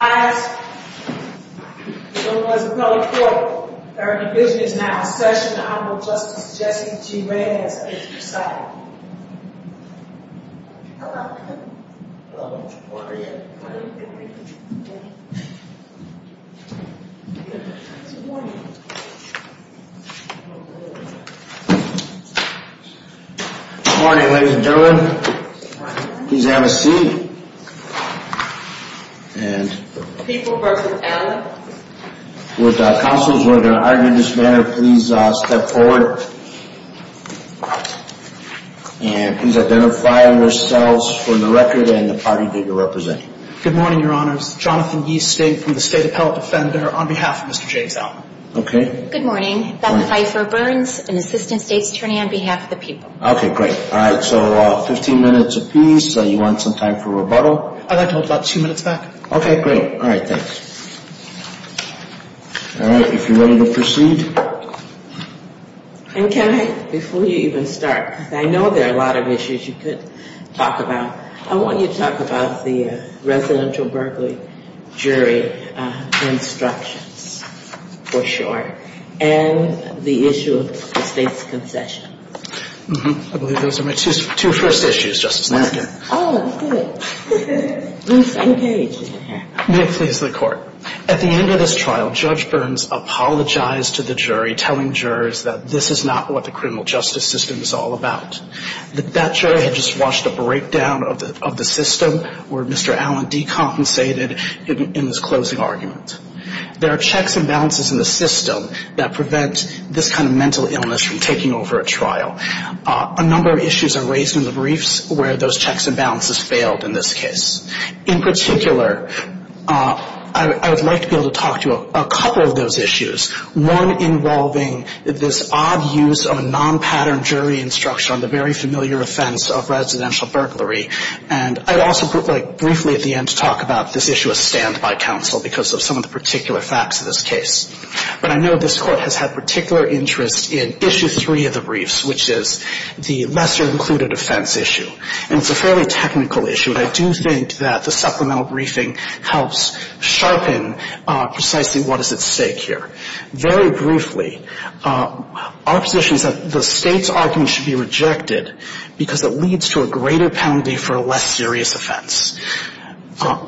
I asked our division is now in session. Honorable Justice Jesse G. Reyes. Morning, ladies and gentlemen, please have a seat. People v. Allen. With counsels who are going to argue in this manner, please step forward. And please identify yourselves for the record and the party that you're representing. Good morning, Your Honors. Jonathan Yee, State, from the State Appellate Defender, on behalf of Mr. James Allen. Good morning. Bethany Pfeiffer, Burns, an Assistant State's Attorney, on behalf of the people. Okay, great. All right, so 15 minutes apiece. You want some time for rebuttal? I'd like to hold about two minutes back. Okay, great. All right, thanks. All right, if you're ready to proceed. And can I, before you even start, because I know there are a lot of issues you could talk about, I want you to talk about the residential burglary jury instructions, for sure, and the issue of the State's concession. I believe those are my two first issues, Justice Ginsburg. Oh, good. Please engage. May it please the Court. At the end of this trial, Judge Burns apologized to the jury, telling jurors that this is not what the criminal justice system is all about. That jury had just watched a breakdown of the system where Mr. Allen decompensated in his closing argument. There are checks and balances in the system that prevent this kind of mental illness from taking over a trial. A number of issues are raised in the briefs where those checks and balances failed in this case. In particular, I would like to be able to talk to you about a couple of those issues, one involving this odd use of a non-pattern jury instruction on the very familiar offense of residential burglary. And I'd also like briefly at the end to talk about this issue of standby counsel because of some of the particular facts of this case. But I know this Court has had particular interest in issue three of the briefs, which is the lesser-included offense issue. And it's a fairly technical issue, and I do think that the supplemental briefing helps sharpen precisely what is at stake here. Very briefly, our position is that the State's argument should be rejected because it leads to a greater penalty for a less serious offense.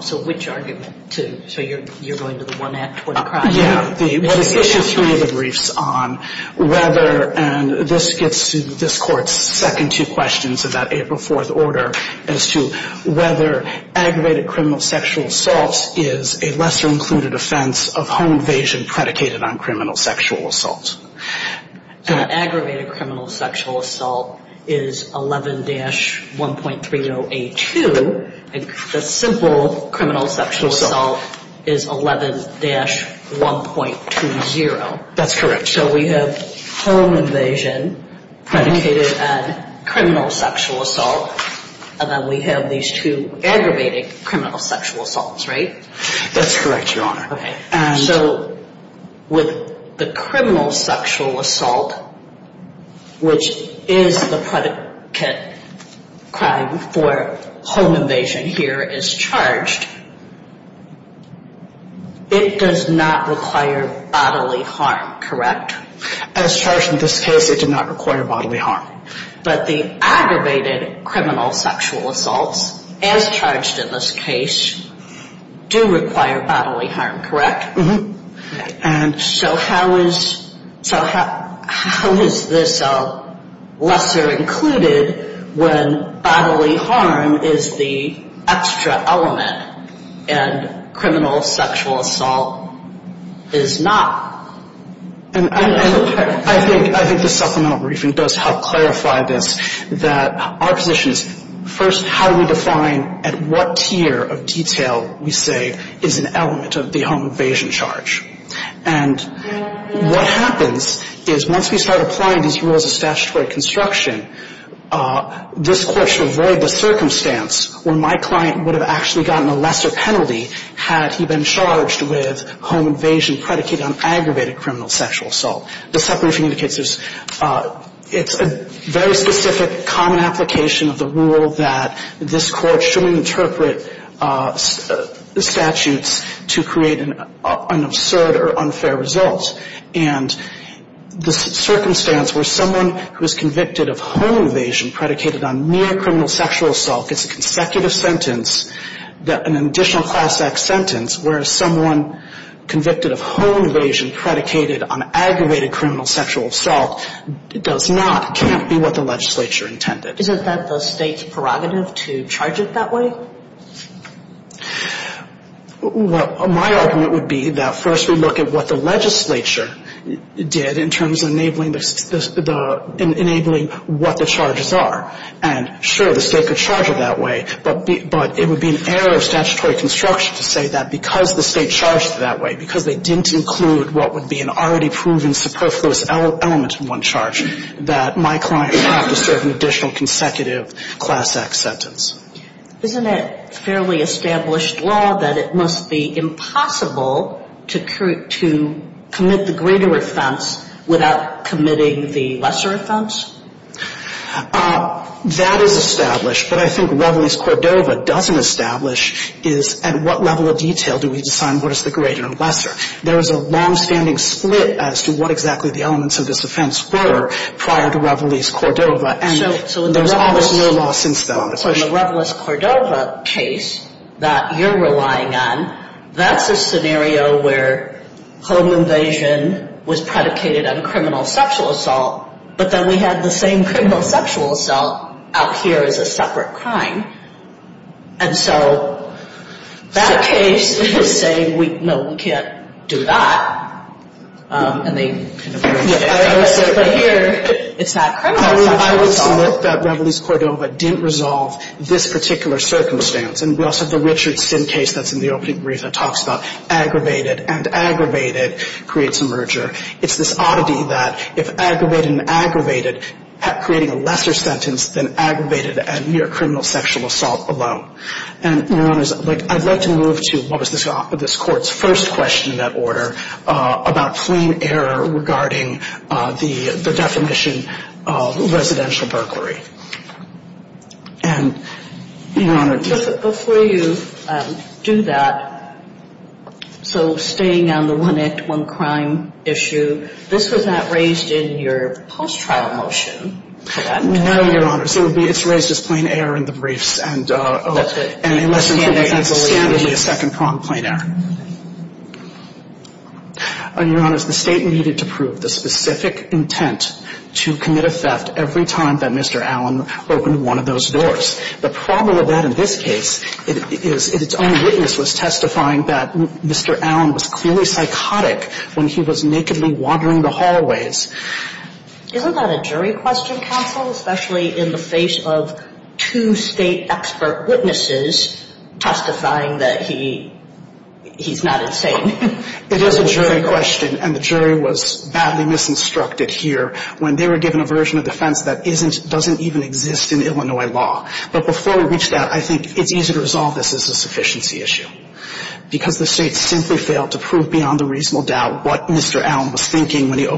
So which argument? So you're going to the one act, 20 crimes? Yeah. The issue three of the briefs on whether, and this gets to this Court's second two questions about April 4th order, as to whether aggravated criminal sexual assault is a lesser-included offense of home invasion predicated on criminal sexual assault. So aggravated criminal sexual assault is 11-1.3082. The simple criminal sexual assault is 11-1.20. That's correct. So we have home invasion predicated on criminal sexual assault, and then we have these two aggravated criminal sexual assaults, right? That's correct, Your Honor. So with the criminal sexual assault, which is the predicate crime for home invasion here is charged, it does not require bodily harm, correct? As charged in this case, it did not require bodily harm. But the aggravated criminal sexual assaults, as charged in this case, do require bodily harm, correct? Mm-hmm. And so how is this a lesser-included when bodily harm is the extra element and criminal sexual assault is not? I think the supplemental briefing does help clarify this, that our position is, first, how do we define at what tier of detail we say is an element of the home invasion charge? And what happens is once we start applying these rules of statutory construction, this Court should avoid the circumstance where my client would have actually gotten a lesser penalty had he been charged with home invasion predicated on aggravated criminal sexual assault. The sub-briefing indicates it's a very specific common application of the rule that this Court shouldn't interpret the statutes to create an absurd or unfair result. And the circumstance where someone who is convicted of home invasion predicated on mere criminal sexual assault gets a consecutive sentence, an additional class X sentence, whereas someone convicted of home invasion predicated on aggravated criminal sexual assault does not, can't be what the legislature intended. Isn't that the State's prerogative to charge it that way? Well, my argument would be that first we look at what the legislature did in terms of enabling what the charges are. And, sure, the State could charge it that way. But it would be an error of statutory construction to say that because the State charged it that way, because they didn't include what would be an already proven superfluous element in one charge, that my client would have to serve an additional consecutive class X sentence. Isn't it fairly established law that it must be impossible to commit the greater offense without committing the lesser offense? That is established. But I think Reveles-Cordova doesn't establish is at what level of detail do we assign what is the greater or lesser. There is a longstanding split as to what exactly the elements of this offense were prior to Reveles-Cordova. And there's always no law since then. So in the Reveles-Cordova case that you're relying on, that's a scenario where home invasion was predicated on criminal sexual assault, but then we had the same criminal sexual assault out here as a separate crime. And so that case is saying, no, we can't do that. And they kind of merge it. But here it's that criminal sexual assault. I would submit that Reveles-Cordova didn't resolve this particular circumstance. And we also have the Richardson case that's in the opening brief that talks about aggravated. And aggravated creates a merger. It's this oddity that if aggravated and aggravated, creating a lesser sentence than aggravated and mere criminal sexual assault alone. And, Your Honors, I'd like to move to what was this Court's first question in that order about plain error regarding the definition of residential burglary. And, Your Honor. Before you do that, so staying on the one act, one crime issue, this was not raised in your post-trial motion, correct? No, Your Honors. It's raised as plain error in the briefs. And in less than two weeks, that's a second-pronged plain error. And, Your Honors, the State needed to prove the specific intent to commit a theft every time that Mr. Allen opened one of those doors. The problem with that in this case is its own witness was testifying that Mr. Allen was clearly psychotic when he was nakedly wandering the hallways. Isn't that a jury question, counsel, especially in the face of two State expert witnesses testifying that he's not insane? It is a jury question. And the jury was badly misinstructed here when they were given a version of defense that doesn't even exist in Illinois law. But before we reach that, I think it's easy to resolve this as a sufficiency issue. Because the State simply failed to prove beyond a reasonable doubt what Mr. Allen was thinking when he was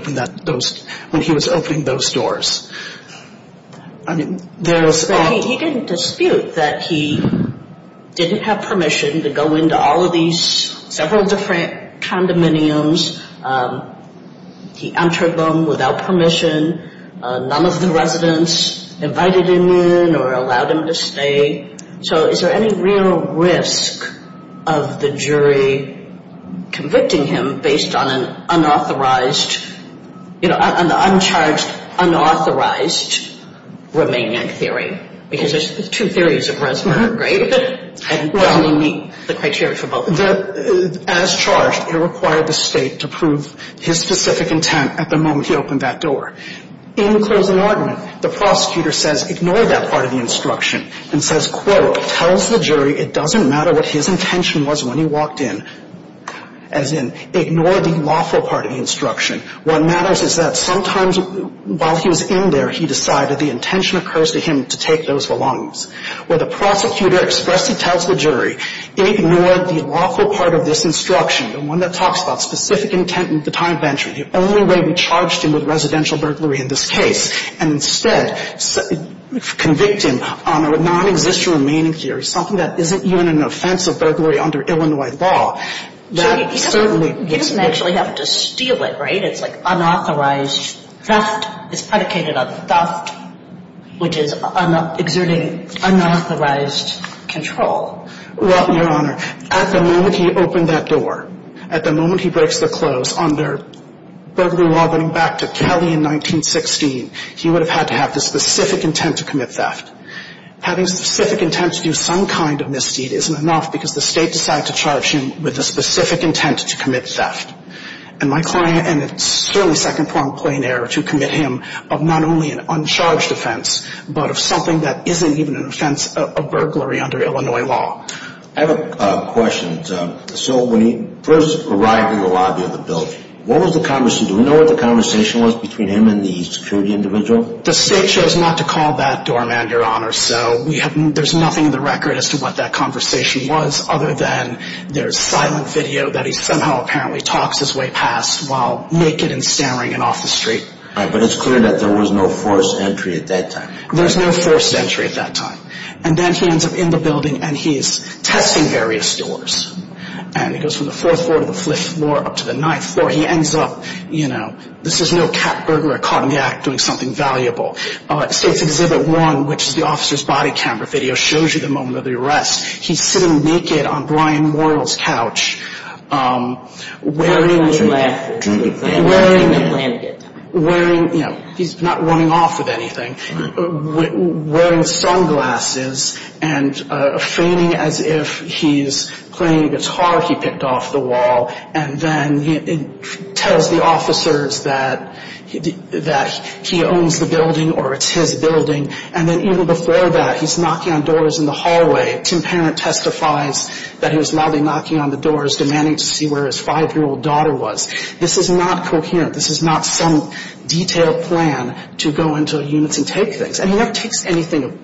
opening those doors. He didn't dispute that he didn't have permission to go into all of these several different condominiums. He entered them without permission. None of the residents invited him in or allowed him to stay. So is there any real risk of the jury convicting him based on an unauthorized, you know, an uncharged, unauthorized Romanian theory? Because there's two theories of Reznor, right? And doesn't he meet the criteria for both? As charged, it required the State to prove his specific intent at the moment he opened that door. In closing argument, the prosecutor says, ignore that part of the instruction, and says, quote, tells the jury it doesn't matter what his intention was when he walked in. As in, ignore the lawful part of the instruction. What matters is that sometimes while he was in there, he decided the intention occurs to him to take those belongings. Where the prosecutor expressly tells the jury, ignore the lawful part of this instruction, the one that talks about specific intent at the time of entry, the only way we charged him with residential burglary in this case, and instead convict him on a non-existent Romanian theory, something that isn't even an offense of burglary under Illinois law. So he doesn't actually have to steal it, right? It's like unauthorized theft. It's predicated on theft, which is exerting unauthorized control. Well, Your Honor, at the moment he opened that door, at the moment he breaks the close under burglary law going back to Kelly in 1916, he would have had to have the specific intent to commit theft. Having specific intent to do some kind of misdeed isn't enough because the State decided to charge him with the specific intent to commit theft. And my client, and it's certainly second-pronged plain error to commit him of not only an uncharged offense, but of something that isn't even an offense of burglary under Illinois law. I have a question. So when he first arrived in the lobby of the building, what was the conversation? Do we know what the conversation was between him and the security individual? The State chose not to call that doorman, Your Honor, so there's nothing in the record as to what that conversation was other than there's silent video that he somehow apparently talks his way past while naked and stammering and off the street. But it's clear that there was no forced entry at that time. There's no forced entry at that time. And then he ends up in the building and he's testing various doors. And he goes from the fourth floor to the fifth floor up to the ninth floor. He ends up, you know, this is no cat burglar caught in the act doing something valuable. State's Exhibit 1, which is the officer's body camera video, shows you the moment of the arrest. He's sitting naked on Brian Moyle's couch wearing, you know, he's not running off with anything, wearing sunglasses and fainting as if he's playing guitar he picked off the wall. And then he tells the officers that he owns the building or it's his building. And then even before that, he's knocking on doors in the hallway. Tim Parent testifies that he was loudly knocking on the doors, demanding to see where his 5-year-old daughter was. This is not coherent. This is not some detailed plan to go into units and take things. And he never takes anything of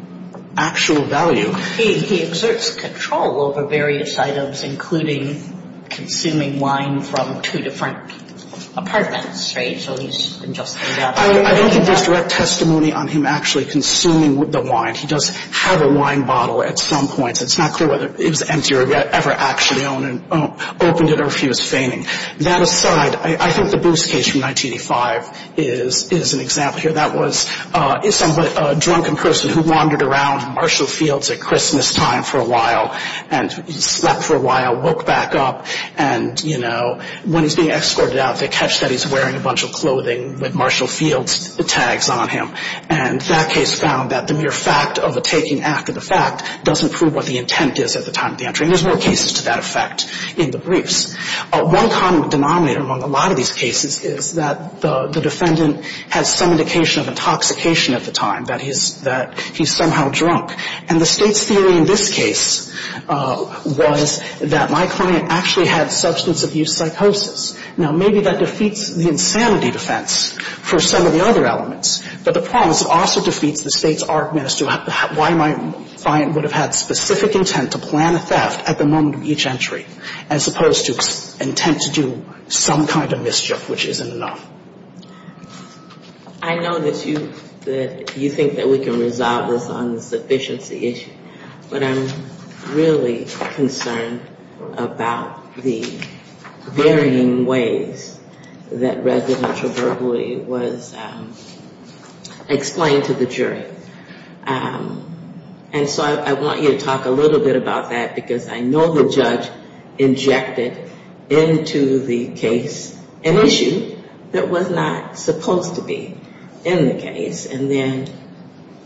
actual value. He exerts control over various items, including consuming wine from two different apartments, right? So he's just laid out. I don't think there's direct testimony on him actually consuming the wine. He does have a wine bottle at some point. It's not clear whether it was empty or if he ever actually opened it or if he was fainting. That aside, I think the Bruce case from 1985 is an example here. That was somewhat a drunken person who wandered around Marshall Fields at Christmas time for a while and slept for a while, woke back up. And, you know, when he's being escorted out, they catch that he's wearing a bunch of clothing with Marshall Fields tags on him. And that case found that the mere fact of a taking after the fact doesn't prove what the intent is at the time of the entry. And there's more cases to that effect in the briefs. One common denominator among a lot of these cases is that the defendant has some indication of intoxication at the time, that he's somehow drunk. And the State's theory in this case was that my client actually had substance abuse psychosis. Now, maybe that defeats the insanity defense for some of the other elements, but the problem is it also defeats the State's art of ministering why my client would have had specific intent to plan a theft at the moment of each entry as opposed to intent to do some kind of mischief, which isn't enough. I know that you think that we can resolve this on the sufficiency issue, but I'm really concerned about the varying ways that residential burglary was explained to the jury. And so I want you to talk a little bit about that, because I know the judge injected into the case an issue that was not supposed to be in the case. And then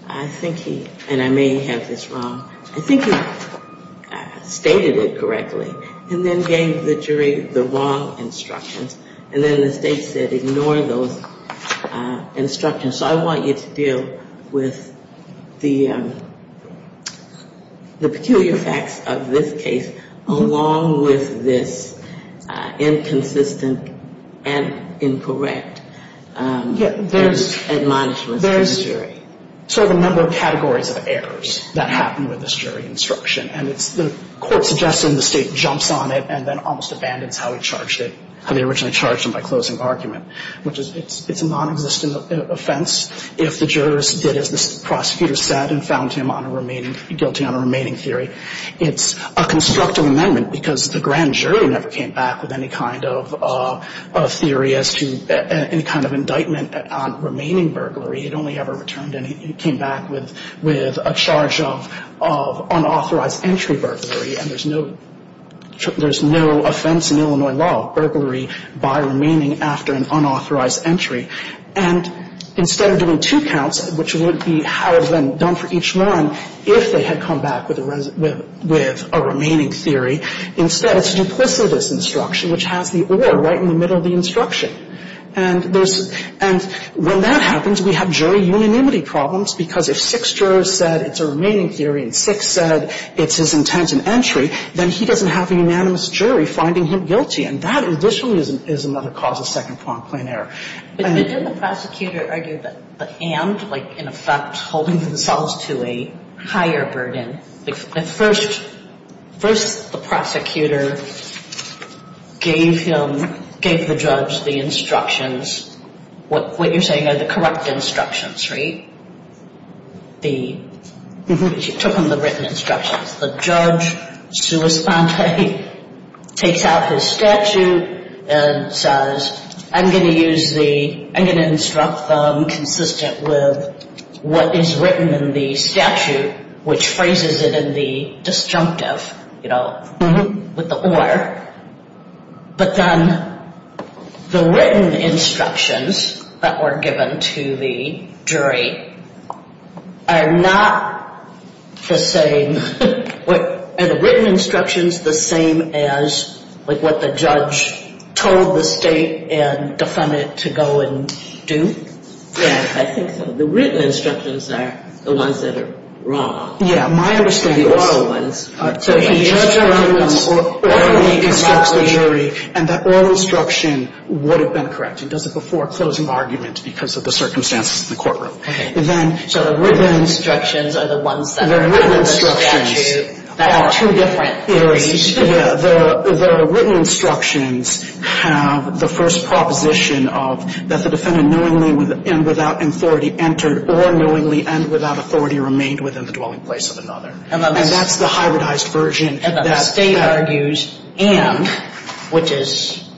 I think he, and I may have this wrong, I think he stated it correctly and then gave the jury the wrong instructions. And then the State said ignore those instructions. And so I want you to deal with the peculiar facts of this case, along with this inconsistent and incorrect admonishments to the jury. There's sort of a number of categories of errors that happen with this jury instruction. And it's the court suggesting the State jumps on it and then almost abandons how he charged it, how they originally charged him by closing argument, which is a non-existent offense if the jurors did as the prosecutor said and found him guilty on a remaining theory. It's a constructive amendment because the grand jury never came back with any kind of theory as to any kind of indictment on remaining burglary. It only ever returned anything. It came back with a charge of unauthorized entry burglary. And there's no, there's no offense in Illinois law, burglary by remaining after an unauthorized entry. And instead of doing two counts, which would be how is then done for each one, if they had come back with a remaining theory, instead it's duplicitous instruction, which has the or right in the middle of the instruction. And there's, and when that happens, we have jury unanimity problems because if six jurors said it's a remaining theory and six said it's his intent in entry, then he doesn't have a unanimous jury finding him guilty. And that additionally is another cause of second-point plain error. But didn't the prosecutor argue that the and, like, in effect, holding themselves to a higher burden, the first, first the prosecutor gave him, gave the judge the instructions, what you're saying are the correct instructions, right? The, she took him the written instructions. The judge, sua sponte, takes out his statute and says, I'm going to use the, I'm going to instruct them consistent with what is written in the statute, which phrases it in the disjunctive, you know, with the or. But then the written instructions that were given to the jury are not the same, are the written instructions the same as, like, what the judge told the state and defended it to go and do? Yeah, I think so. The written instructions are the ones that are wrong. Yeah, my understanding is. And the oral ones are correct. The judge only instructs the jury and that oral instruction would have been correct. He does it before a closing argument because of the circumstances in the courtroom. Okay. And then. So the written instructions are the ones that are in the statute that are two different areas. Yeah, the written instructions have the first proposition of that the defendant knowingly and without authority entered or knowingly and without authority remained within the dwelling place of another. And that's the hybridized version. And the state argues and, which is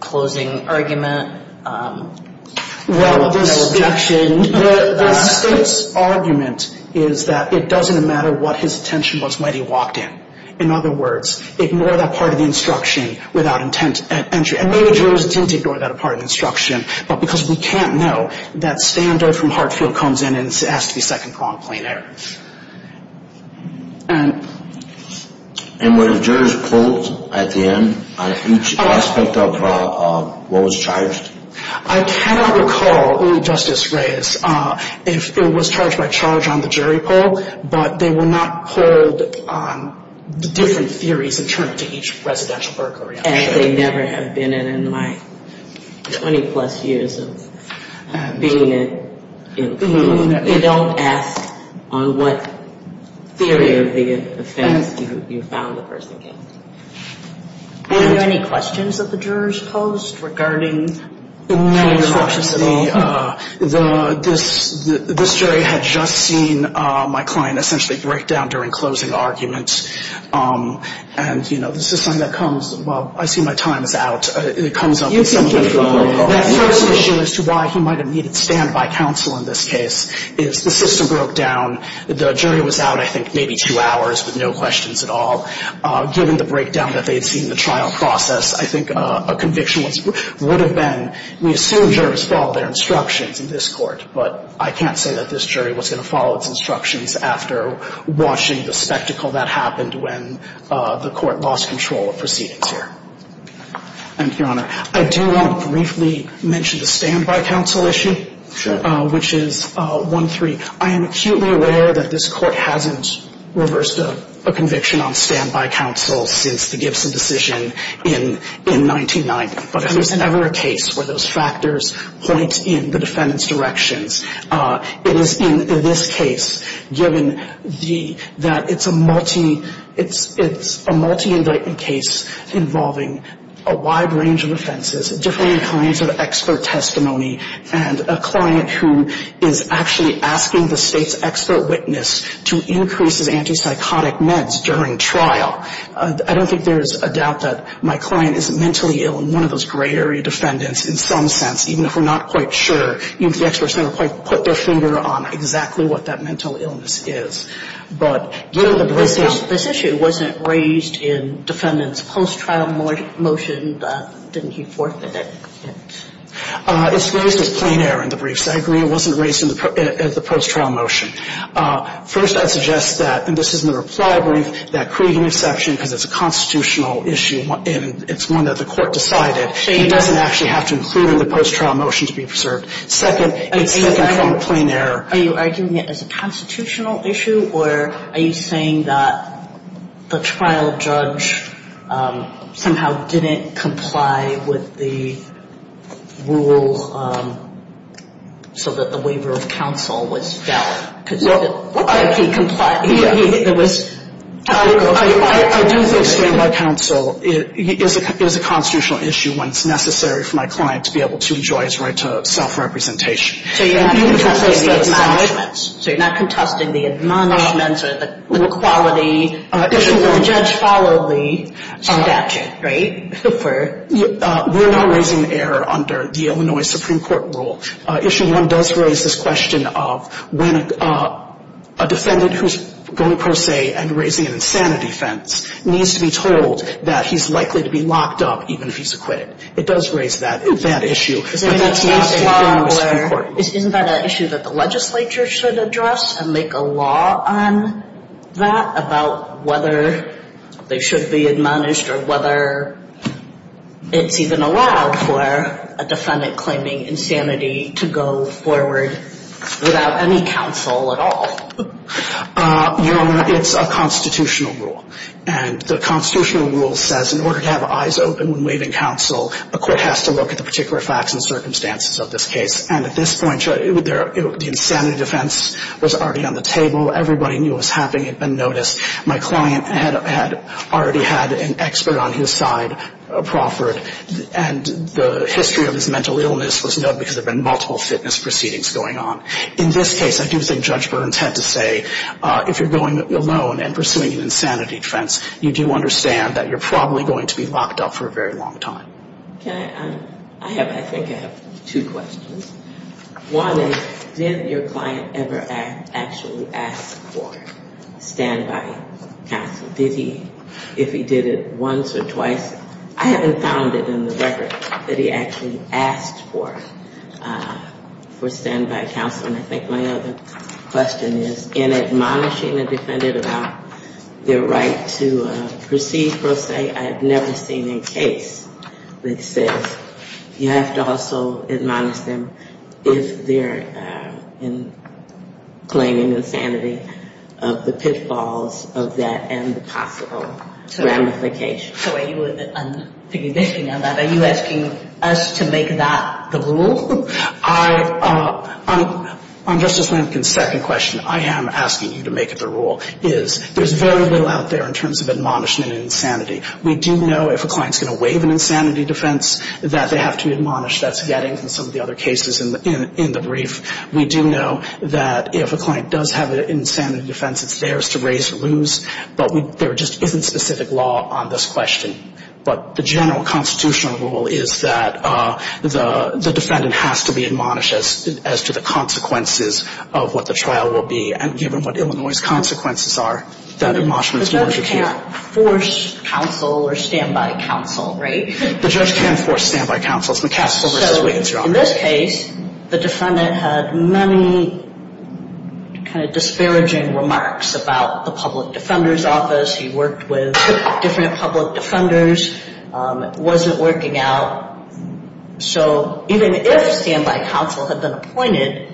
closing argument, no objection. The state's argument is that it doesn't matter what his attention was when he walked in. In other words, ignore that part of the instruction without intent at entry. And maybe jurors tend to ignore that part of the instruction, but because we can't know, that standard from Hartfield comes in and it has to be second-pronged plain error. And. And would the jurors poll at the end on each aspect of what was charged? I cannot recall, only Justice Reyes, if it was charged by charge on the jury poll, but they will not poll the different theories in terms of each residential burglary. As they never have been in my 20-plus years of being in the field. They don't ask on what theory of the offense you found the person guilty. Were there any questions that the jurors posed regarding. No questions at all. This jury had just seen my client essentially break down during closing arguments. And, you know, this is something that comes, well, I see my time is out. It comes up. That first issue as to why he might have needed standby counsel in this case is the system broke down. The jury was out, I think, maybe two hours with no questions at all. Given the breakdown that they had seen in the trial process, I think a conviction would have been, we assume jurors follow their instructions in this court, but I can't say that this jury was going to follow its instructions after watching the spectacle that happened when the court lost control of proceedings here. Thank you, Your Honor. I do want to briefly mention the standby counsel issue, which is 1-3. I am acutely aware that this court hasn't reversed a conviction on standby counsel since the Gibson decision in 1990. But there's never a case where those factors point in the defendant's directions. It is in this case, given that it's a multi-indictment case involving a wide range of offenses, different kinds of expert testimony, and a client who is actually asking the State's expert witness to increase his antipsychotic meds during trial. I don't think there is a doubt that my client is mentally ill and one of those gray area defendants in some sense, even if we're not quite sure. Even if the experts never quite put their finger on exactly what that mental illness is. But given the breakdowns of this case, this issue wasn't raised in defendant's post-trial motion. Didn't he forth it? It's raised as plain error in the briefs. I agree it wasn't raised in the post-trial motion. First, I'd suggest that, and this is in the reply brief, that Creegan exception, because it's a constitutional issue and it's one that the court decided, he doesn't actually have to include in the post-trial motion to be preserved. Second, it's taken from a plain error. Are you arguing it as a constitutional issue or are you saying that the trial judge somehow didn't comply with the rule so that the waiver of counsel was valid? I do think stand-by counsel is a constitutional issue when it's necessary for my client to be able to enjoy his right to self-representation. So you're not contesting the admonishments? So you're not contesting the admonishments or the quality? The judge followed the statute, right? We're not raising the error under the Illinois Supreme Court rule. Issue one does raise this question of when a defendant who's going per se and raising an insanity offense needs to be told that he's likely to be locked up even if he's acquitted. It does raise that issue. Isn't that an issue that the legislature should address and make a law on that, about whether they should be admonished or whether it's even allowed for a defendant claiming insanity to go forward without any counsel at all? Your Honor, it's a constitutional rule. And the constitutional rule says in order to have eyes open when waiving counsel, a court has to look at the particular facts and circumstances of this case. And at this point, the insanity defense was already on the table. Everybody knew it was happening. It had been noticed. My client had already had an expert on his side, a proffered. And the history of his mental illness was known because there had been multiple fitness proceedings going on. In this case, I do think Judge Burns had to say if you're going alone and pursuing an insanity defense, you do understand that you're probably going to be locked up for a very long time. Can I – I have – I think I have two questions. One is did your client ever actually ask for standby counsel? Did he – if he did it once or twice? I haven't found it in the record that he actually asked for standby counsel. And I think my other question is in admonishing a defendant about their right to proceed, per se, I have never seen a case that says you have to also admonish them if they're claiming insanity of the pitfalls of that and the possible ramifications. So are you asking us to make that the rule? I – on Justice Lampkin's second question, I am asking you to make it the rule, is there's very little out there in terms of admonishment and insanity. We do know if a client's going to waive an insanity defense that they have to admonish. That's getting from some of the other cases in the brief. We do know that if a client does have an insanity defense, it's theirs to raise or lose. But there just isn't specific law on this question. But the general constitutional rule is that the defendant has to be admonished as to the consequences of what the trial will be. And given what Illinois' consequences are, that admonishment is more secure. The judge can't force counsel or standby counsel, right? The judge can force standby counsel. It's McCaskell v. Wiggins, Your Honor. So in this case, the defendant had many kind of disparaging remarks about the public defender's office. He worked with different public defenders. It wasn't working out. So even if standby counsel had been appointed,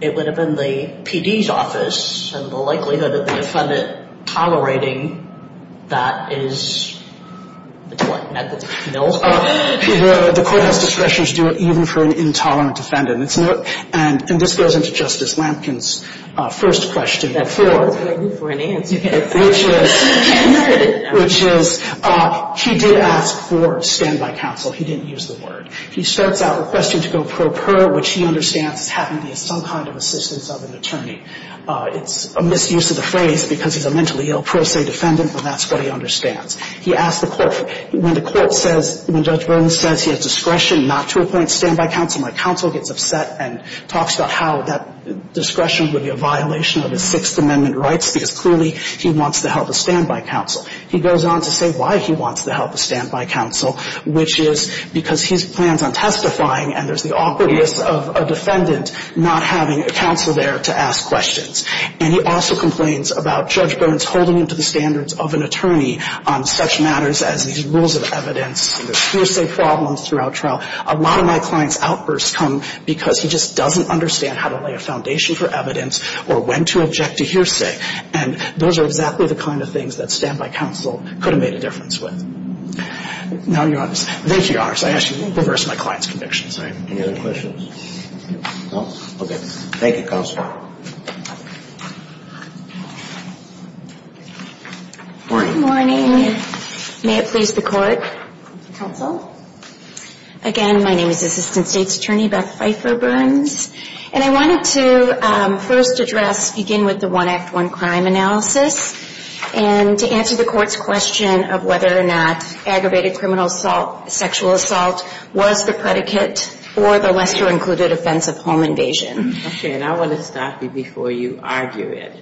it would have been the PD's office and the likelihood of the defendant tolerating that is, what, negligible? The court has discretion to do it even for an intolerant defendant. And this goes into Justice Lampkin's first question. That's what I need for an answer. Which is, he did ask for standby counsel. He didn't use the word. He starts out requesting to go pro per, which he understands is having to be some kind of assistance of an attorney. It's a misuse of the phrase because he's a mentally ill pro se defendant, but that's what he understands. He asked the court, when the court says, when Judge Burns says he has discretion not to appoint standby counsel, my counsel gets upset and talks about how that discretion would be a violation of his Sixth Amendment rights because clearly he wants to help a standby counsel. He goes on to say why he wants to help a standby counsel, which is because he plans on testifying and there's the awkwardness of a defendant not having a counsel there to ask questions. And he also complains about Judge Burns holding him to the standards of an attorney on such matters as these rules of evidence and the hearsay problems throughout trial. A lot of my clients' outbursts come because he just doesn't understand how to lay a foundation for evidence or when to object to hearsay. And those are exactly the kind of things that standby counsel could have made a difference with. Now, Your Honors, thank you, Your Honors. I actually reversed my client's conviction. Sorry. Any other questions? No? Okay. Thank you, Counsel. Good morning. Good morning. May it please the Court. Counsel. Again, my name is Assistant State's Attorney Beth Pfeiffer Burns. And I wanted to first address, begin with the One Act, One Crime analysis and to answer the Court's question of whether or not aggravated criminal assault, sexual assault was the predicate for the Lester-included offense of home invasion. Okay. And I want to stop you before you argue it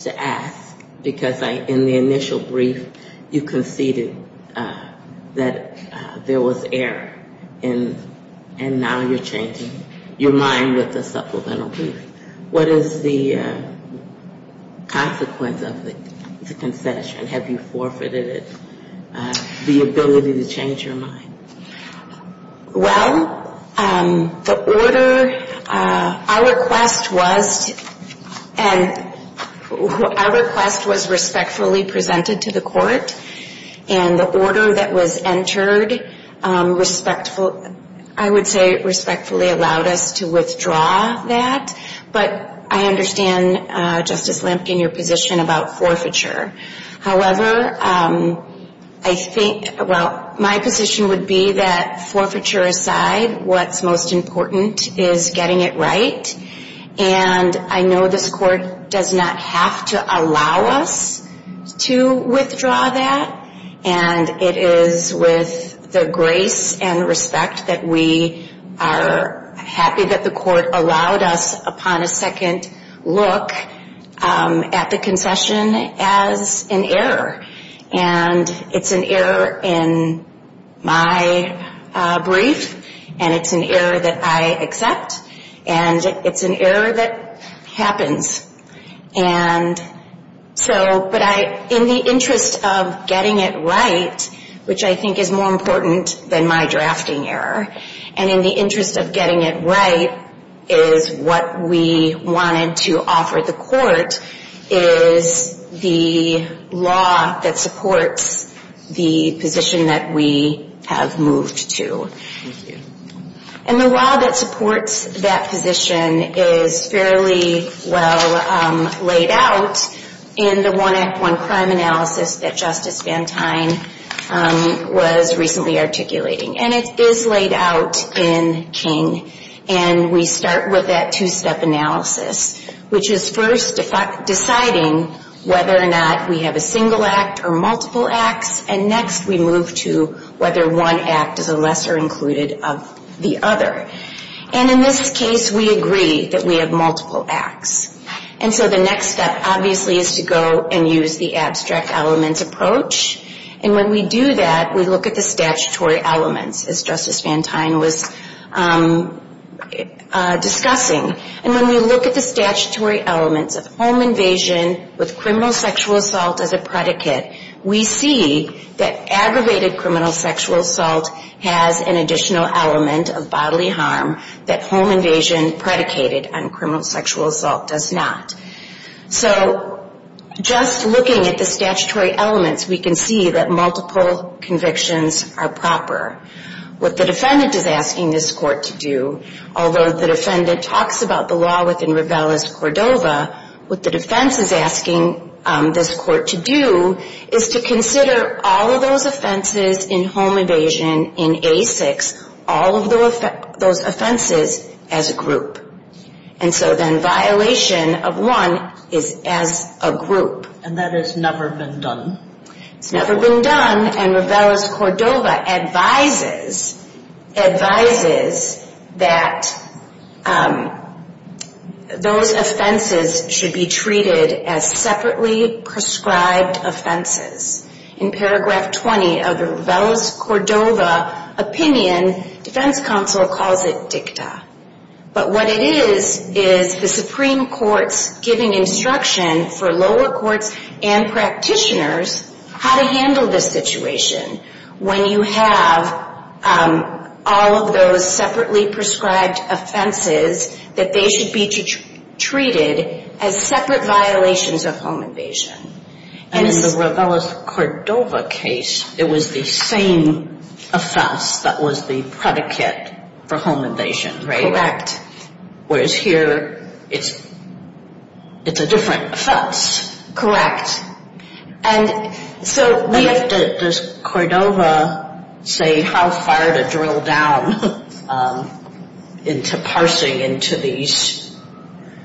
to ask because in the initial brief, you conceded that there was error. And now you're changing your mind with the supplemental brief. What is the consequence of the concession? Have you forfeited it, the ability to change your mind? Well, the order, our request was respectfully presented to the Court. And the order that was entered, I would say respectfully allowed us to withdraw that. But I understand, Justice Lampkin, your position about forfeiture. However, I think, well, my position would be that forfeiture aside, what's most important is getting it right. And I know this Court does not have to allow us to withdraw that. And it is with the grace and respect that we are happy that the Court allowed us upon a second look at the concession as an error. And it's an error in my brief. And it's an error that I accept. And it's an error that happens. And so, but I, in the interest of getting it right, which I think is more important than my drafting error, and in the interest of getting it right is what we wanted to offer the Court, is the law that supports the position that we have moved to. And the law that supports that position is fairly well laid out in the one act, one crime analysis that Justice Van Tine was recently articulating. And it is laid out in King. And we start with that two-step analysis, which is first deciding whether or not we have a single act or multiple acts. And next we move to whether one act is a lesser included of the other. And in this case, we agree that we have multiple acts. And so the next step, obviously, is to go and use the abstract elements approach. And when we do that, we look at the statutory elements, as Justice Van Tine was discussing. And when we look at the statutory elements of home invasion with criminal sexual assault as a predicate, we see that aggravated criminal sexual assault has an additional element of bodily harm that home invasion predicated on criminal sexual assault does not. So just looking at the statutory elements, we can see that multiple convictions are proper. What the defendant is asking this Court to do, although the defendant talks about the law within Ravel as Cordova, what the defense is asking this Court to do is to consider all of those offenses in home invasion in A6, all of those offenses as a group. And so then violation of one is as a group. And that has never been done. It's never been done. Van Tine and Ravel as Cordova advises that those offenses should be treated as separately prescribed offenses. In Paragraph 20 of the Ravel as Cordova opinion, defense counsel calls it dicta. But what it is is the Supreme Court's giving instruction for lower courts and practitioners how to handle this situation when you have all of those separately prescribed offenses that they should be treated as separate violations of home invasion. And in the Ravel as Cordova case, it was the same offense that was the predicate for home invasion. Correct. Whereas here, it's a different offense. Correct. And so we have to, does Cordova say how far to drill down into parsing into these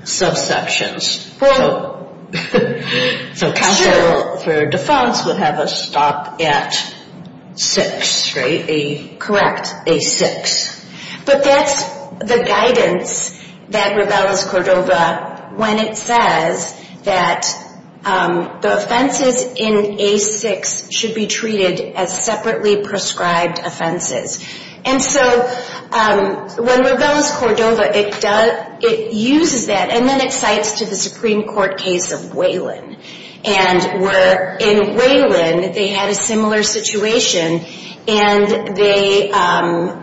subsections? So counsel for defense would have a stop at 6, correct? A6. But that's the guidance that Ravel as Cordova when it says that the offenses in A6 should be treated as separately prescribed offenses. And so when Ravel as Cordova, it uses that and then it cites to the Supreme Court case of Waylon. And in Waylon, they had a similar situation and they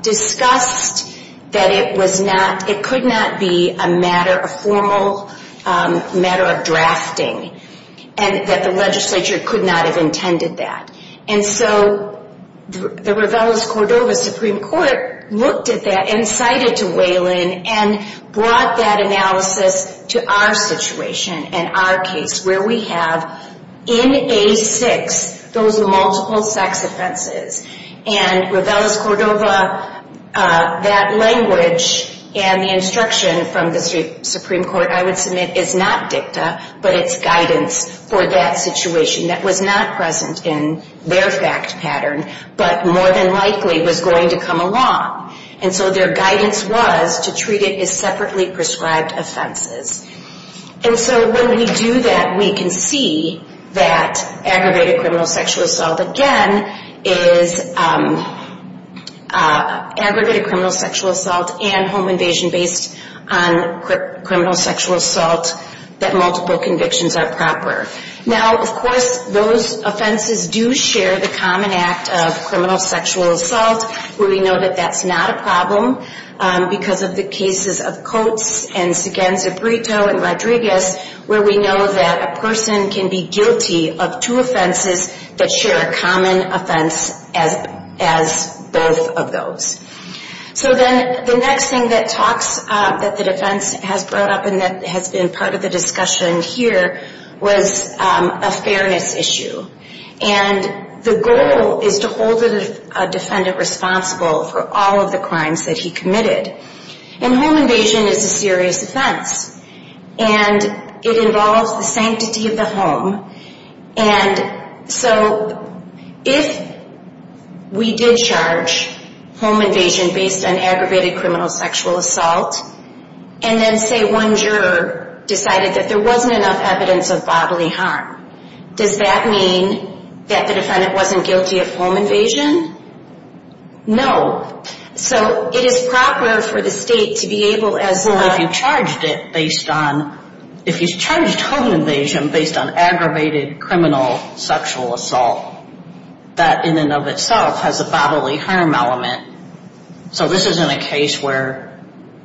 discussed that it was not, it could not be a matter, could not have intended that. And so the Ravel as Cordova Supreme Court looked at that and cited to Waylon and brought that analysis to our situation and our case where we have in A6 those multiple sex offenses. And Ravel as Cordova, that language and the instruction from the Supreme Court I would submit is not dicta, but it's guidance for that situation that was not present in their fact pattern, but more than likely was going to come along. And so their guidance was to treat it as separately prescribed offenses. And so when we do that, we can see that aggravated criminal sexual assault again is aggravated criminal sexual assault and home invasion based on criminal sexual assault that multiple convictions are proper. Now, of course, those offenses do share the common act of criminal sexual assault where we know that that's not a problem because of the cases of Coates and Segenza-Brito and Rodriguez where we know that a person can be guilty of two offenses that share a common offense as both of those. So then the next thing that talks that the defense has brought up and that has been part of the discussion here was a fairness issue. And the goal is to hold a defendant responsible for all of the crimes that he committed. And home invasion is a serious offense. And it involves the sanctity of the home. And so if we did charge home invasion based on aggravated criminal sexual assault and then say one juror decided that there wasn't enough evidence of bodily harm, does that mean that the defendant wasn't guilty of home invasion? No. So it is proper for the state to be able as a... Well, if you charged home invasion based on aggravated criminal sexual assault, that in and of itself has a bodily harm element. So this isn't a case where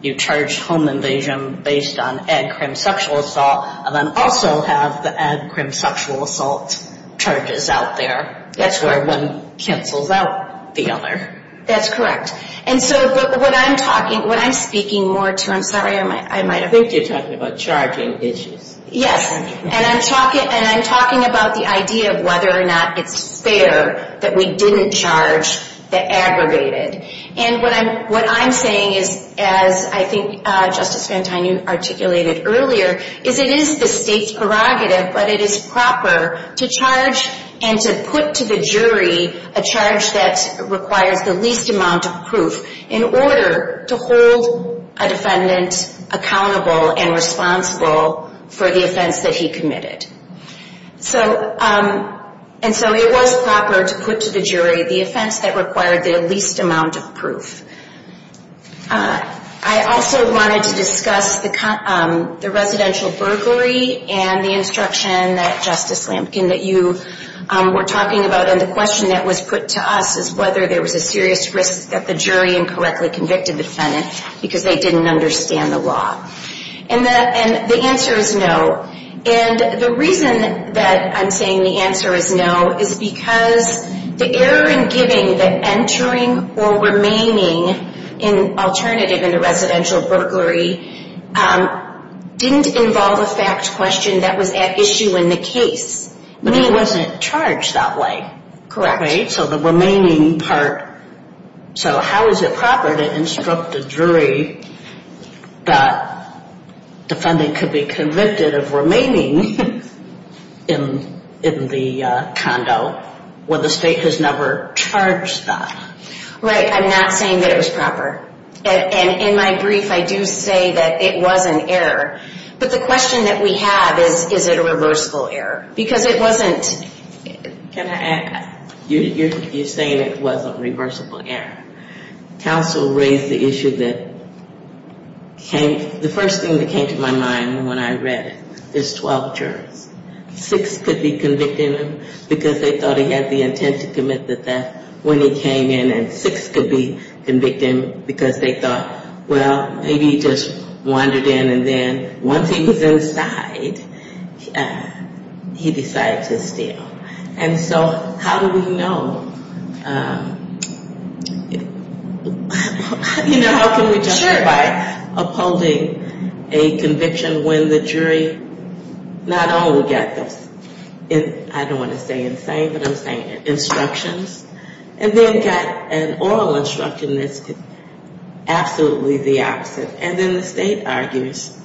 you charge home invasion based on ad crim sexual assault and then also have the ad crim sexual assault charges out there. That's where one cancels out the other. That's correct. And so what I'm talking, what I'm speaking more to, I'm sorry, I might have... I think you're talking about charging issues. Yes. And I'm talking about the idea of whether or not it's fair that we didn't charge the aggravated. And what I'm saying is, as I think Justice Van Tine articulated earlier, is it is the state's prerogative, but it is proper to charge and to put to the jury a charge that requires the least amount of proof in order to hold a defendant accountable and responsible for the offense that he committed. And so it was proper to put to the jury the offense that required the least amount of proof. I also wanted to discuss the residential burglary and the instruction that, Justice Lampkin, that you were talking about. And the question that was put to us is whether there was a serious risk that the jury incorrectly convicted the defendant because they didn't understand the law. And the answer is no. And the reason that I'm saying the answer is no is because the error in giving the entering or remaining alternative in a residential burglary didn't involve a fact question that was at issue in the case. I mean, it wasn't charged that way. Correct. So the remaining part... So how is it proper to instruct the jury that the defendant could be convicted of remaining in the condo when the state has never charged that? Right. I'm not saying that it was proper. And in my brief, I do say that it was an error. But the question that we have is, is it a reversible error? Because it wasn't... Can I add? You're saying it wasn't a reversible error. Counsel raised the issue that came... The first thing that came to my mind when I read it is 12 jurors. Six could be convicted because they thought he had the intent to commit the theft when he came in, and six could be convicted because they thought, well, maybe he just wandered in and then once he was inside, he decided to steal. And so how do we know... You know, how can we justify upholding a conviction when the jury not only got the... I don't want to say insane, but I'm saying instructions, and then got an oral instruction that's absolutely the opposite. And then the state argues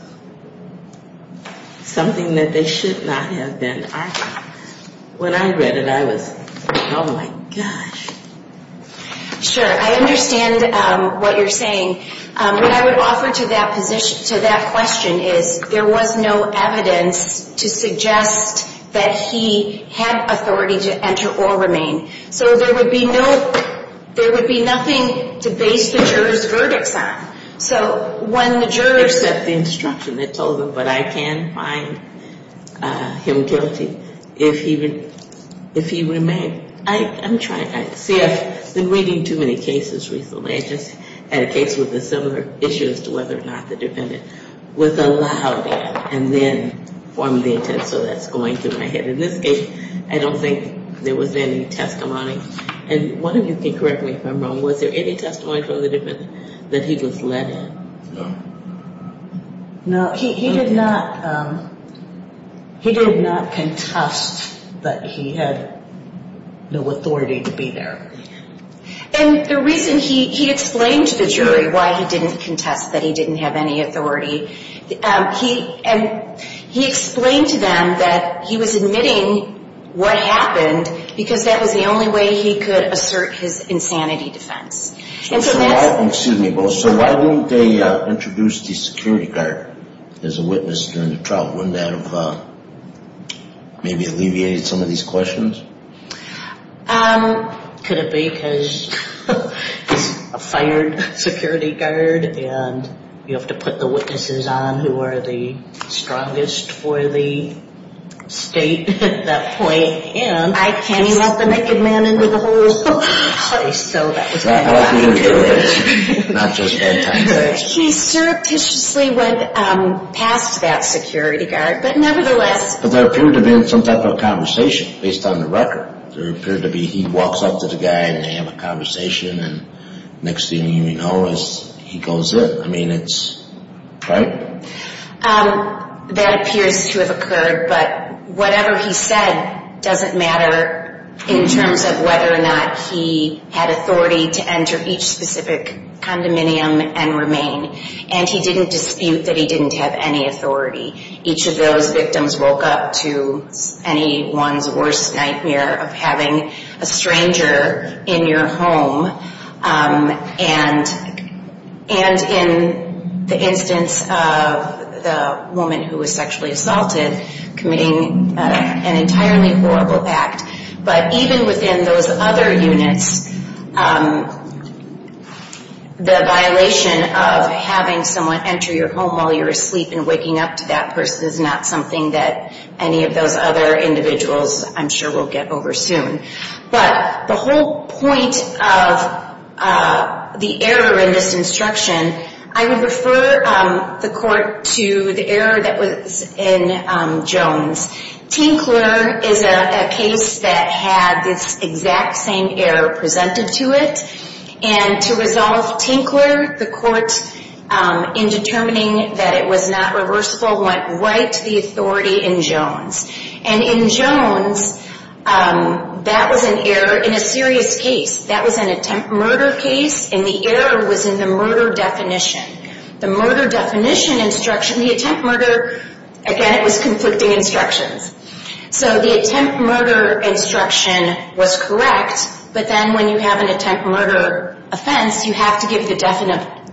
something that they should not have been arguing. When I read it, I was, oh my gosh. Sure, I understand what you're saying. What I would offer to that question is, there was no evidence to suggest that he had authority to enter or remain. So there would be nothing to base the jurors' verdicts on. So when the jurors... See, I've been reading too many cases recently. I just had a case with a similar issue as to whether or not the defendant was allowed in and then formed the intent. So that's going through my head. In this case, I don't think there was any testimony. And one of you can correct me if I'm wrong. Was there any testimony from the defendant that he was let in? No. He did not contest that he had no authority to be there. And the reason he explained to the jury why he didn't contest that he didn't have any authority, he explained to them that he was admitting what happened because that was the only way he could have done it. Could he have introduced the security guard as a witness during the trial? Wouldn't that have maybe alleviated some of these questions? Could it be because he's a fired security guard and you have to put the witnesses on who are the strongest for the state at that point? He surreptitiously went past that security guard, but nevertheless... But there appeared to have been some type of conversation based on the record. There appeared to be he walks up to the guy and they have a conversation and next thing you know he goes in. I mean, it's...right? That appears to have occurred, but whatever he said doesn't matter in terms of whether or not he had authority to enter each specific condominium and remain. And he didn't dispute that he didn't have any authority. Each of those victims woke up to anyone's worst nightmare of having a stranger in your home. And in the instance of the woman who was sexually assaulted committing an entirely horrible act. But even within those other units the violation of having someone enter your home while you're asleep and waking up to that person is not something that any of those other individuals I'm sure will get over soon. But the whole point of the error in this instruction, I would refer the court to the error that was in Jones. Tinkler is a case that had this exact same error presented to it and to resolve Tinkler the court in determining that it was an error in a serious case. That was an attempt murder case and the error was in the murder definition. The murder definition instruction, the attempt murder, again it was conflicting instructions. So the attempt murder instruction was correct, but then when you have an attempt murder offense you have to give the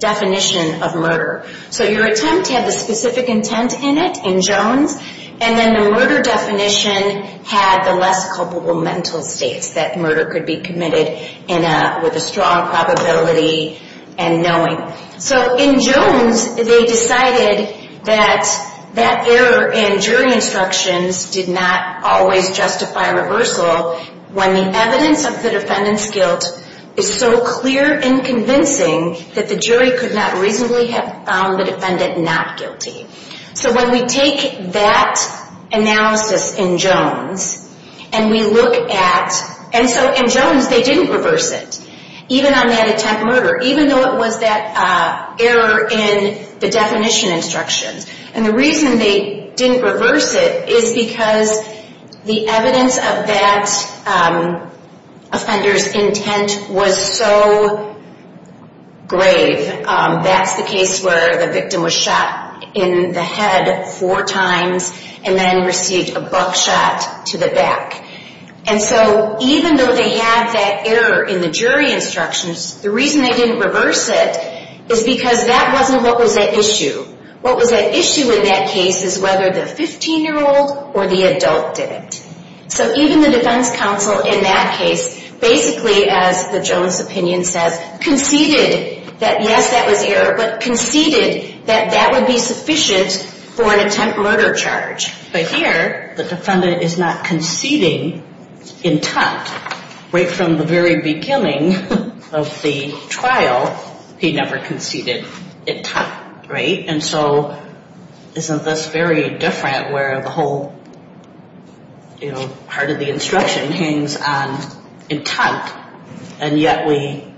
definition of murder. So your attempt had the specific intent in it in Jones and then the murder definition had the less culpable mental states that murder could be committed with a strong probability and knowing. So in Jones they decided that that error in jury instructions did not always justify reversal when the evidence of the defendant's guilt is so not guilty. So when we take that analysis in Jones and we look at, and so in Jones they didn't reverse it. Even on that attempt murder, even though it was that error in the definition instructions. And the reason they didn't reverse it is because the evidence of that offender's intent was so grave. That's the case where the victim was shot in the head four times and then received a buck shot to the back. And so even though they had that error in the jury instructions, the reason they didn't reverse it is because that wasn't what was at issue. What was at issue in that case is whether the 15-year-old or the adult did it. So even the defense counsel in that case, basically as the Jones opinion says, conceded that yes, that was error, but conceded that that would be sufficient for an attempt murder charge. But here the defendant is not conceding intent right from the very beginning of the trial. He never conceded intent, right? And so isn't this very different where the whole part of the instruction hangs on intent and yet we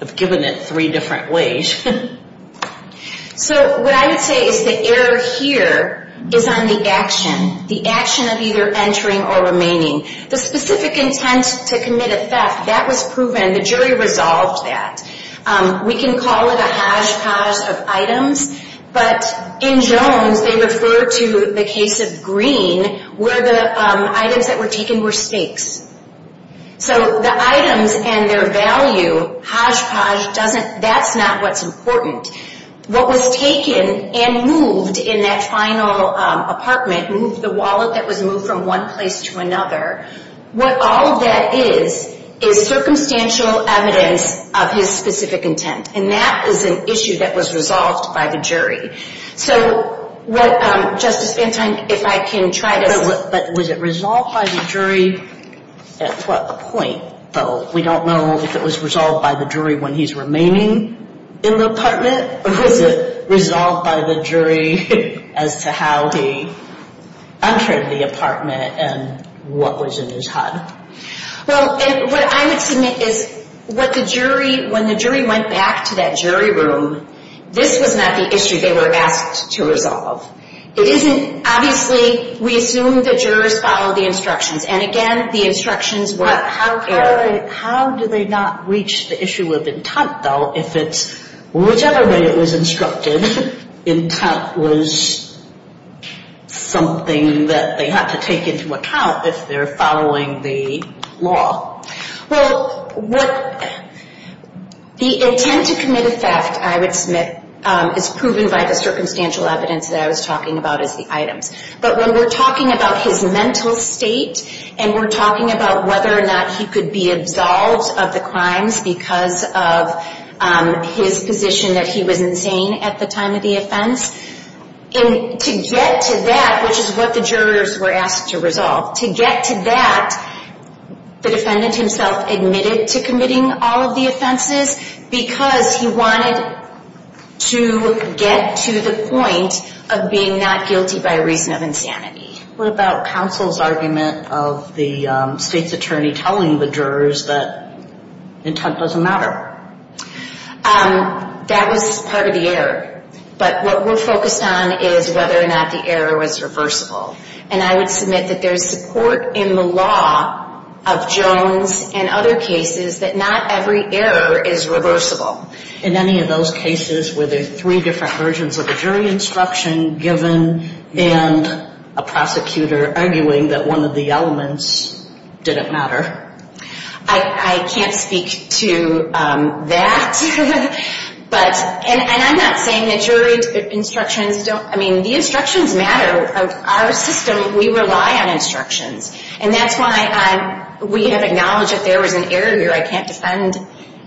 have given it three different ways? So what I would say is the error here is on the action. The action of either entering or remaining. The specific intent to commit a theft, that was proven. The jury resolved that. We can call it a hodgepodge of items, but in Jones they refer to the case of Green where the items that were taken were stakes. So the items and their value, hodgepodge, that's not what's important. What was taken and moved in that final apartment, the wallet that was moved from one place to another, what all of that is, is circumstantial evidence of his specific intent. And that is an issue that was resolved by the jury. So what Justice Van Tonk, if I can try to... But was it resolved by the jury at what point, though? We don't know if it was resolved by the jury when he's remaining in the apartment, or was it resolved by the jury as to how he entered the apartment and how he was in his hut? Well, what I would submit is what the jury, when the jury went back to that jury room, this was not the issue they were asked to resolve. It isn't, obviously, we assume the jurors follow the instructions. And again, the instructions were... How do they not reach the issue of intent, though, if it's, whichever way it was instructed, intent was something that they have to take into account if they're following the law. The intent to commit a theft, I would submit, is proven by the circumstantial evidence that I was talking about as the items. But when we're talking about his mental state, and we're talking about whether or not he could be absolved of the crimes because of his position that he was insane at the time of the offense, and to get to that, which is what the jurors were asked to resolve, to get to that, the defendant himself admitted to committing all of the offenses because he wanted to get to the point of being not guilty by reason of insanity. What about counsel's argument of the state's attorney telling the jurors that intent doesn't matter? That was part of the error. But what we're focused on is whether or not the error was reversible. And I would submit that there's support in the law of Jones and other cases that not every error is reversible. In any of those cases, were there three different versions of a jury instruction given and a prosecutor arguing that one of the elements didn't matter? I can't speak to that. But, and I'm not saying that jury instructions don't, I mean, the instructions matter. Our system, we rely on instructions. And that's why we have acknowledged that there was an error here. I can't defend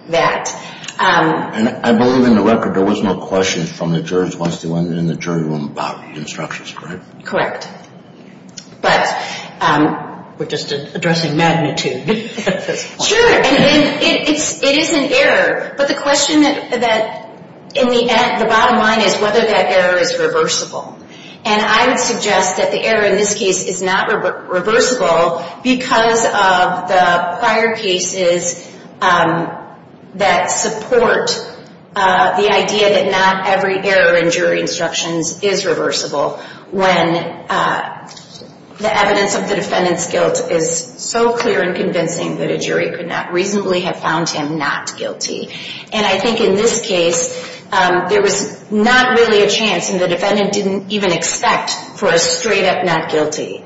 that. And I believe in the record there was no question from the jurors once they went in the jury room about instructions, correct? Correct. But, we're just addressing magnitude at this point. Sure. And it is an error. But the question that, in the end, the bottom line is whether that error is reversible. And I would suggest that the error in this case is not reversible because of the prior cases that support the idea that not every error in jury instructions is reversible when the evidence of the defendant's guilt is so clear and convincing that a jury could not reasonably have found him not guilty. And I think in this case, there was not really a chance, and the defendant didn't even expect for a straight up not guilty.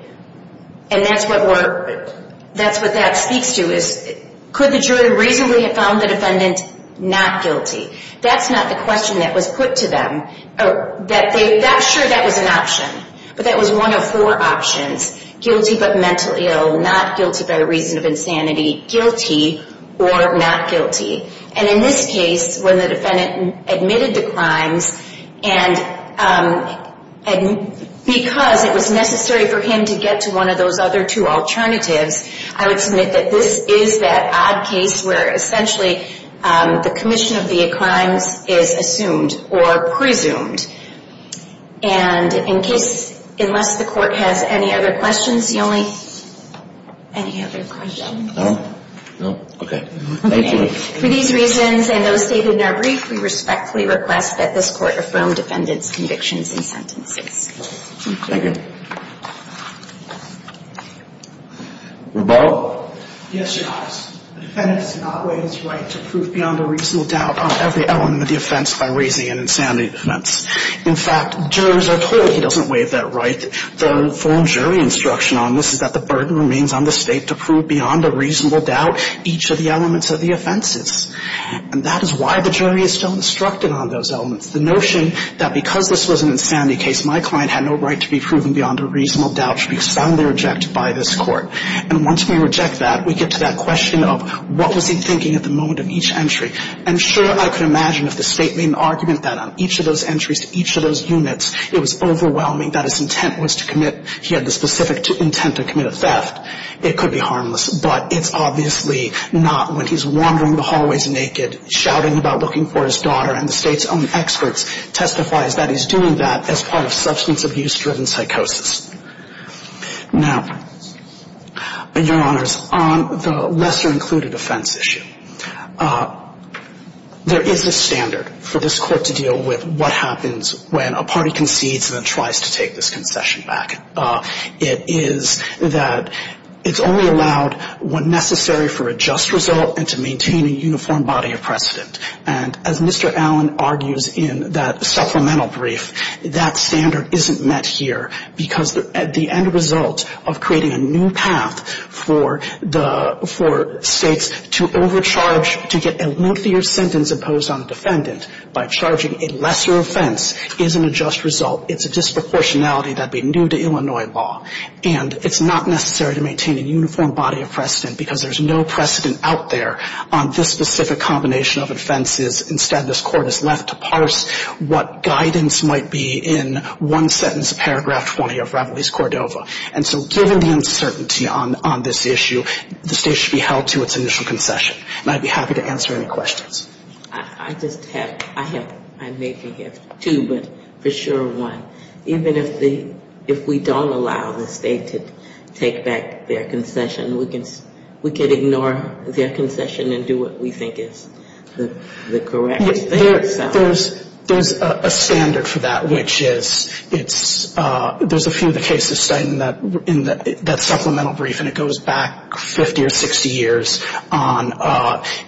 And that's what we're, that's what that speaks to, is could the jury reasonably have found the defendant not guilty? That's not the question that was put to them. That, sure, that was an option. But that was one of four options. Guilty but mentally ill, not guilty by reason of insanity, guilty or not guilty. And in this case, when the defendant admitted to crimes, and because it was necessary for him to get to one of those other two alternatives, I would submit that this is that odd case where essentially the commission of the crimes is assumed or presumed. And in case, unless the court has any other questions, you only, any other questions? No. No. Okay. Thank you. For these reasons, and those stated in our brief, we respectfully request that this court affirm defendant's convictions and sentences. Thank you. Rebel? Yes, Your Honor. The defendant does not weigh his right to prove beyond a reasonable doubt on every element of the offense by raising an insanity defense. In fact, jurors are told he doesn't weigh that right. The full jury instruction on this is that the burden remains on the State to prove beyond a reasonable doubt each of the elements of the offenses. And that is why the jury is still instructed on those elements. The notion that because this was an insanity case, my client had no right to be proven beyond a reasonable doubt should be rejected by this court. And once we reject that, we get to that question of what was he thinking at the moment of each entry. And sure, I could imagine if the State made an argument that on each of those entries to each of those units, it was overwhelming that his intent was to commit, he had the specific intent to commit a theft, it could be harmless. But it's obviously not when he's wandering the hallways naked, shouting about looking for his daughter, and the State's own experts testifies that he's doing that as part of substance abuse driven psychosis. Now, Your Honors, on the lesser included offense issue, there is a standard for this court to deal with what happens when a party concedes and then tries to take this concession back. It is that it's only allowed when necessary for a just result and to maintain a uniform body of precedent. And as Mr. Allen argues in that supplemental brief, that standard isn't met here because the end result of creating a new path for the — for States to overcharge, to get a lengthier sentence imposed on a defendant by charging a lesser offense is an unjust result. It's a disproportionality that would be new to Illinois law. And it's not necessary to maintain a uniform body of precedent because there's no precedent out there on this specific combination of offenses. Instead, this court is left to parse what guidance might be in one sentence of paragraph 20 of Reveille's Cordova. And so given the uncertainty on this issue, the State should be held to its initial concession. And I'd be happy to answer any questions. I just have — I have — I may have two, but for sure one. Even if the — if we don't allow the State to take back their concession, we can — we can ignore their concession and do what we think is the correct thing. There's a standard for that, which is it's — there's a few of the cases cited in that supplemental brief, and it goes back 50 or 60 years, on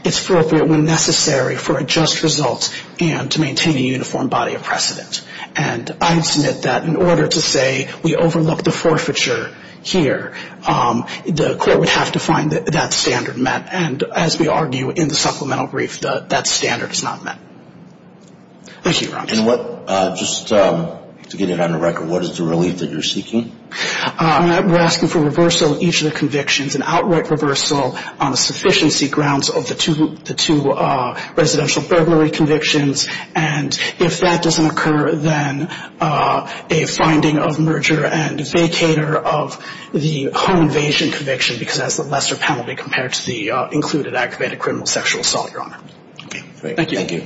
it's appropriate when necessary for a just result and to maintain a uniform body of precedent. And I would submit that in order to say we overlook the forfeiture here, the court would have to find that that standard met. And as we argue in the supplemental brief, that standard is not met. Thank you, Ron. And what — just to get it on the record, what is the relief that you're seeking? We're asking for reversal of each of the convictions, an outright reversal on the sufficiency grounds of the two — the two residential burglary convictions. And if that doesn't occur, then a finding of merger and vacater of the home invasion conviction, because that's a lesser penalty compared to the home sexual assault, Your Honor. Thank you. Okay.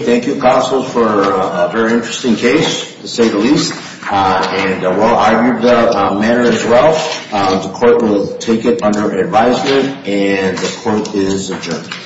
Thank you, counsel, for a very interesting case, to say the least, and well-argued matter as well. The court will take it under advisement, and the court is adjourned.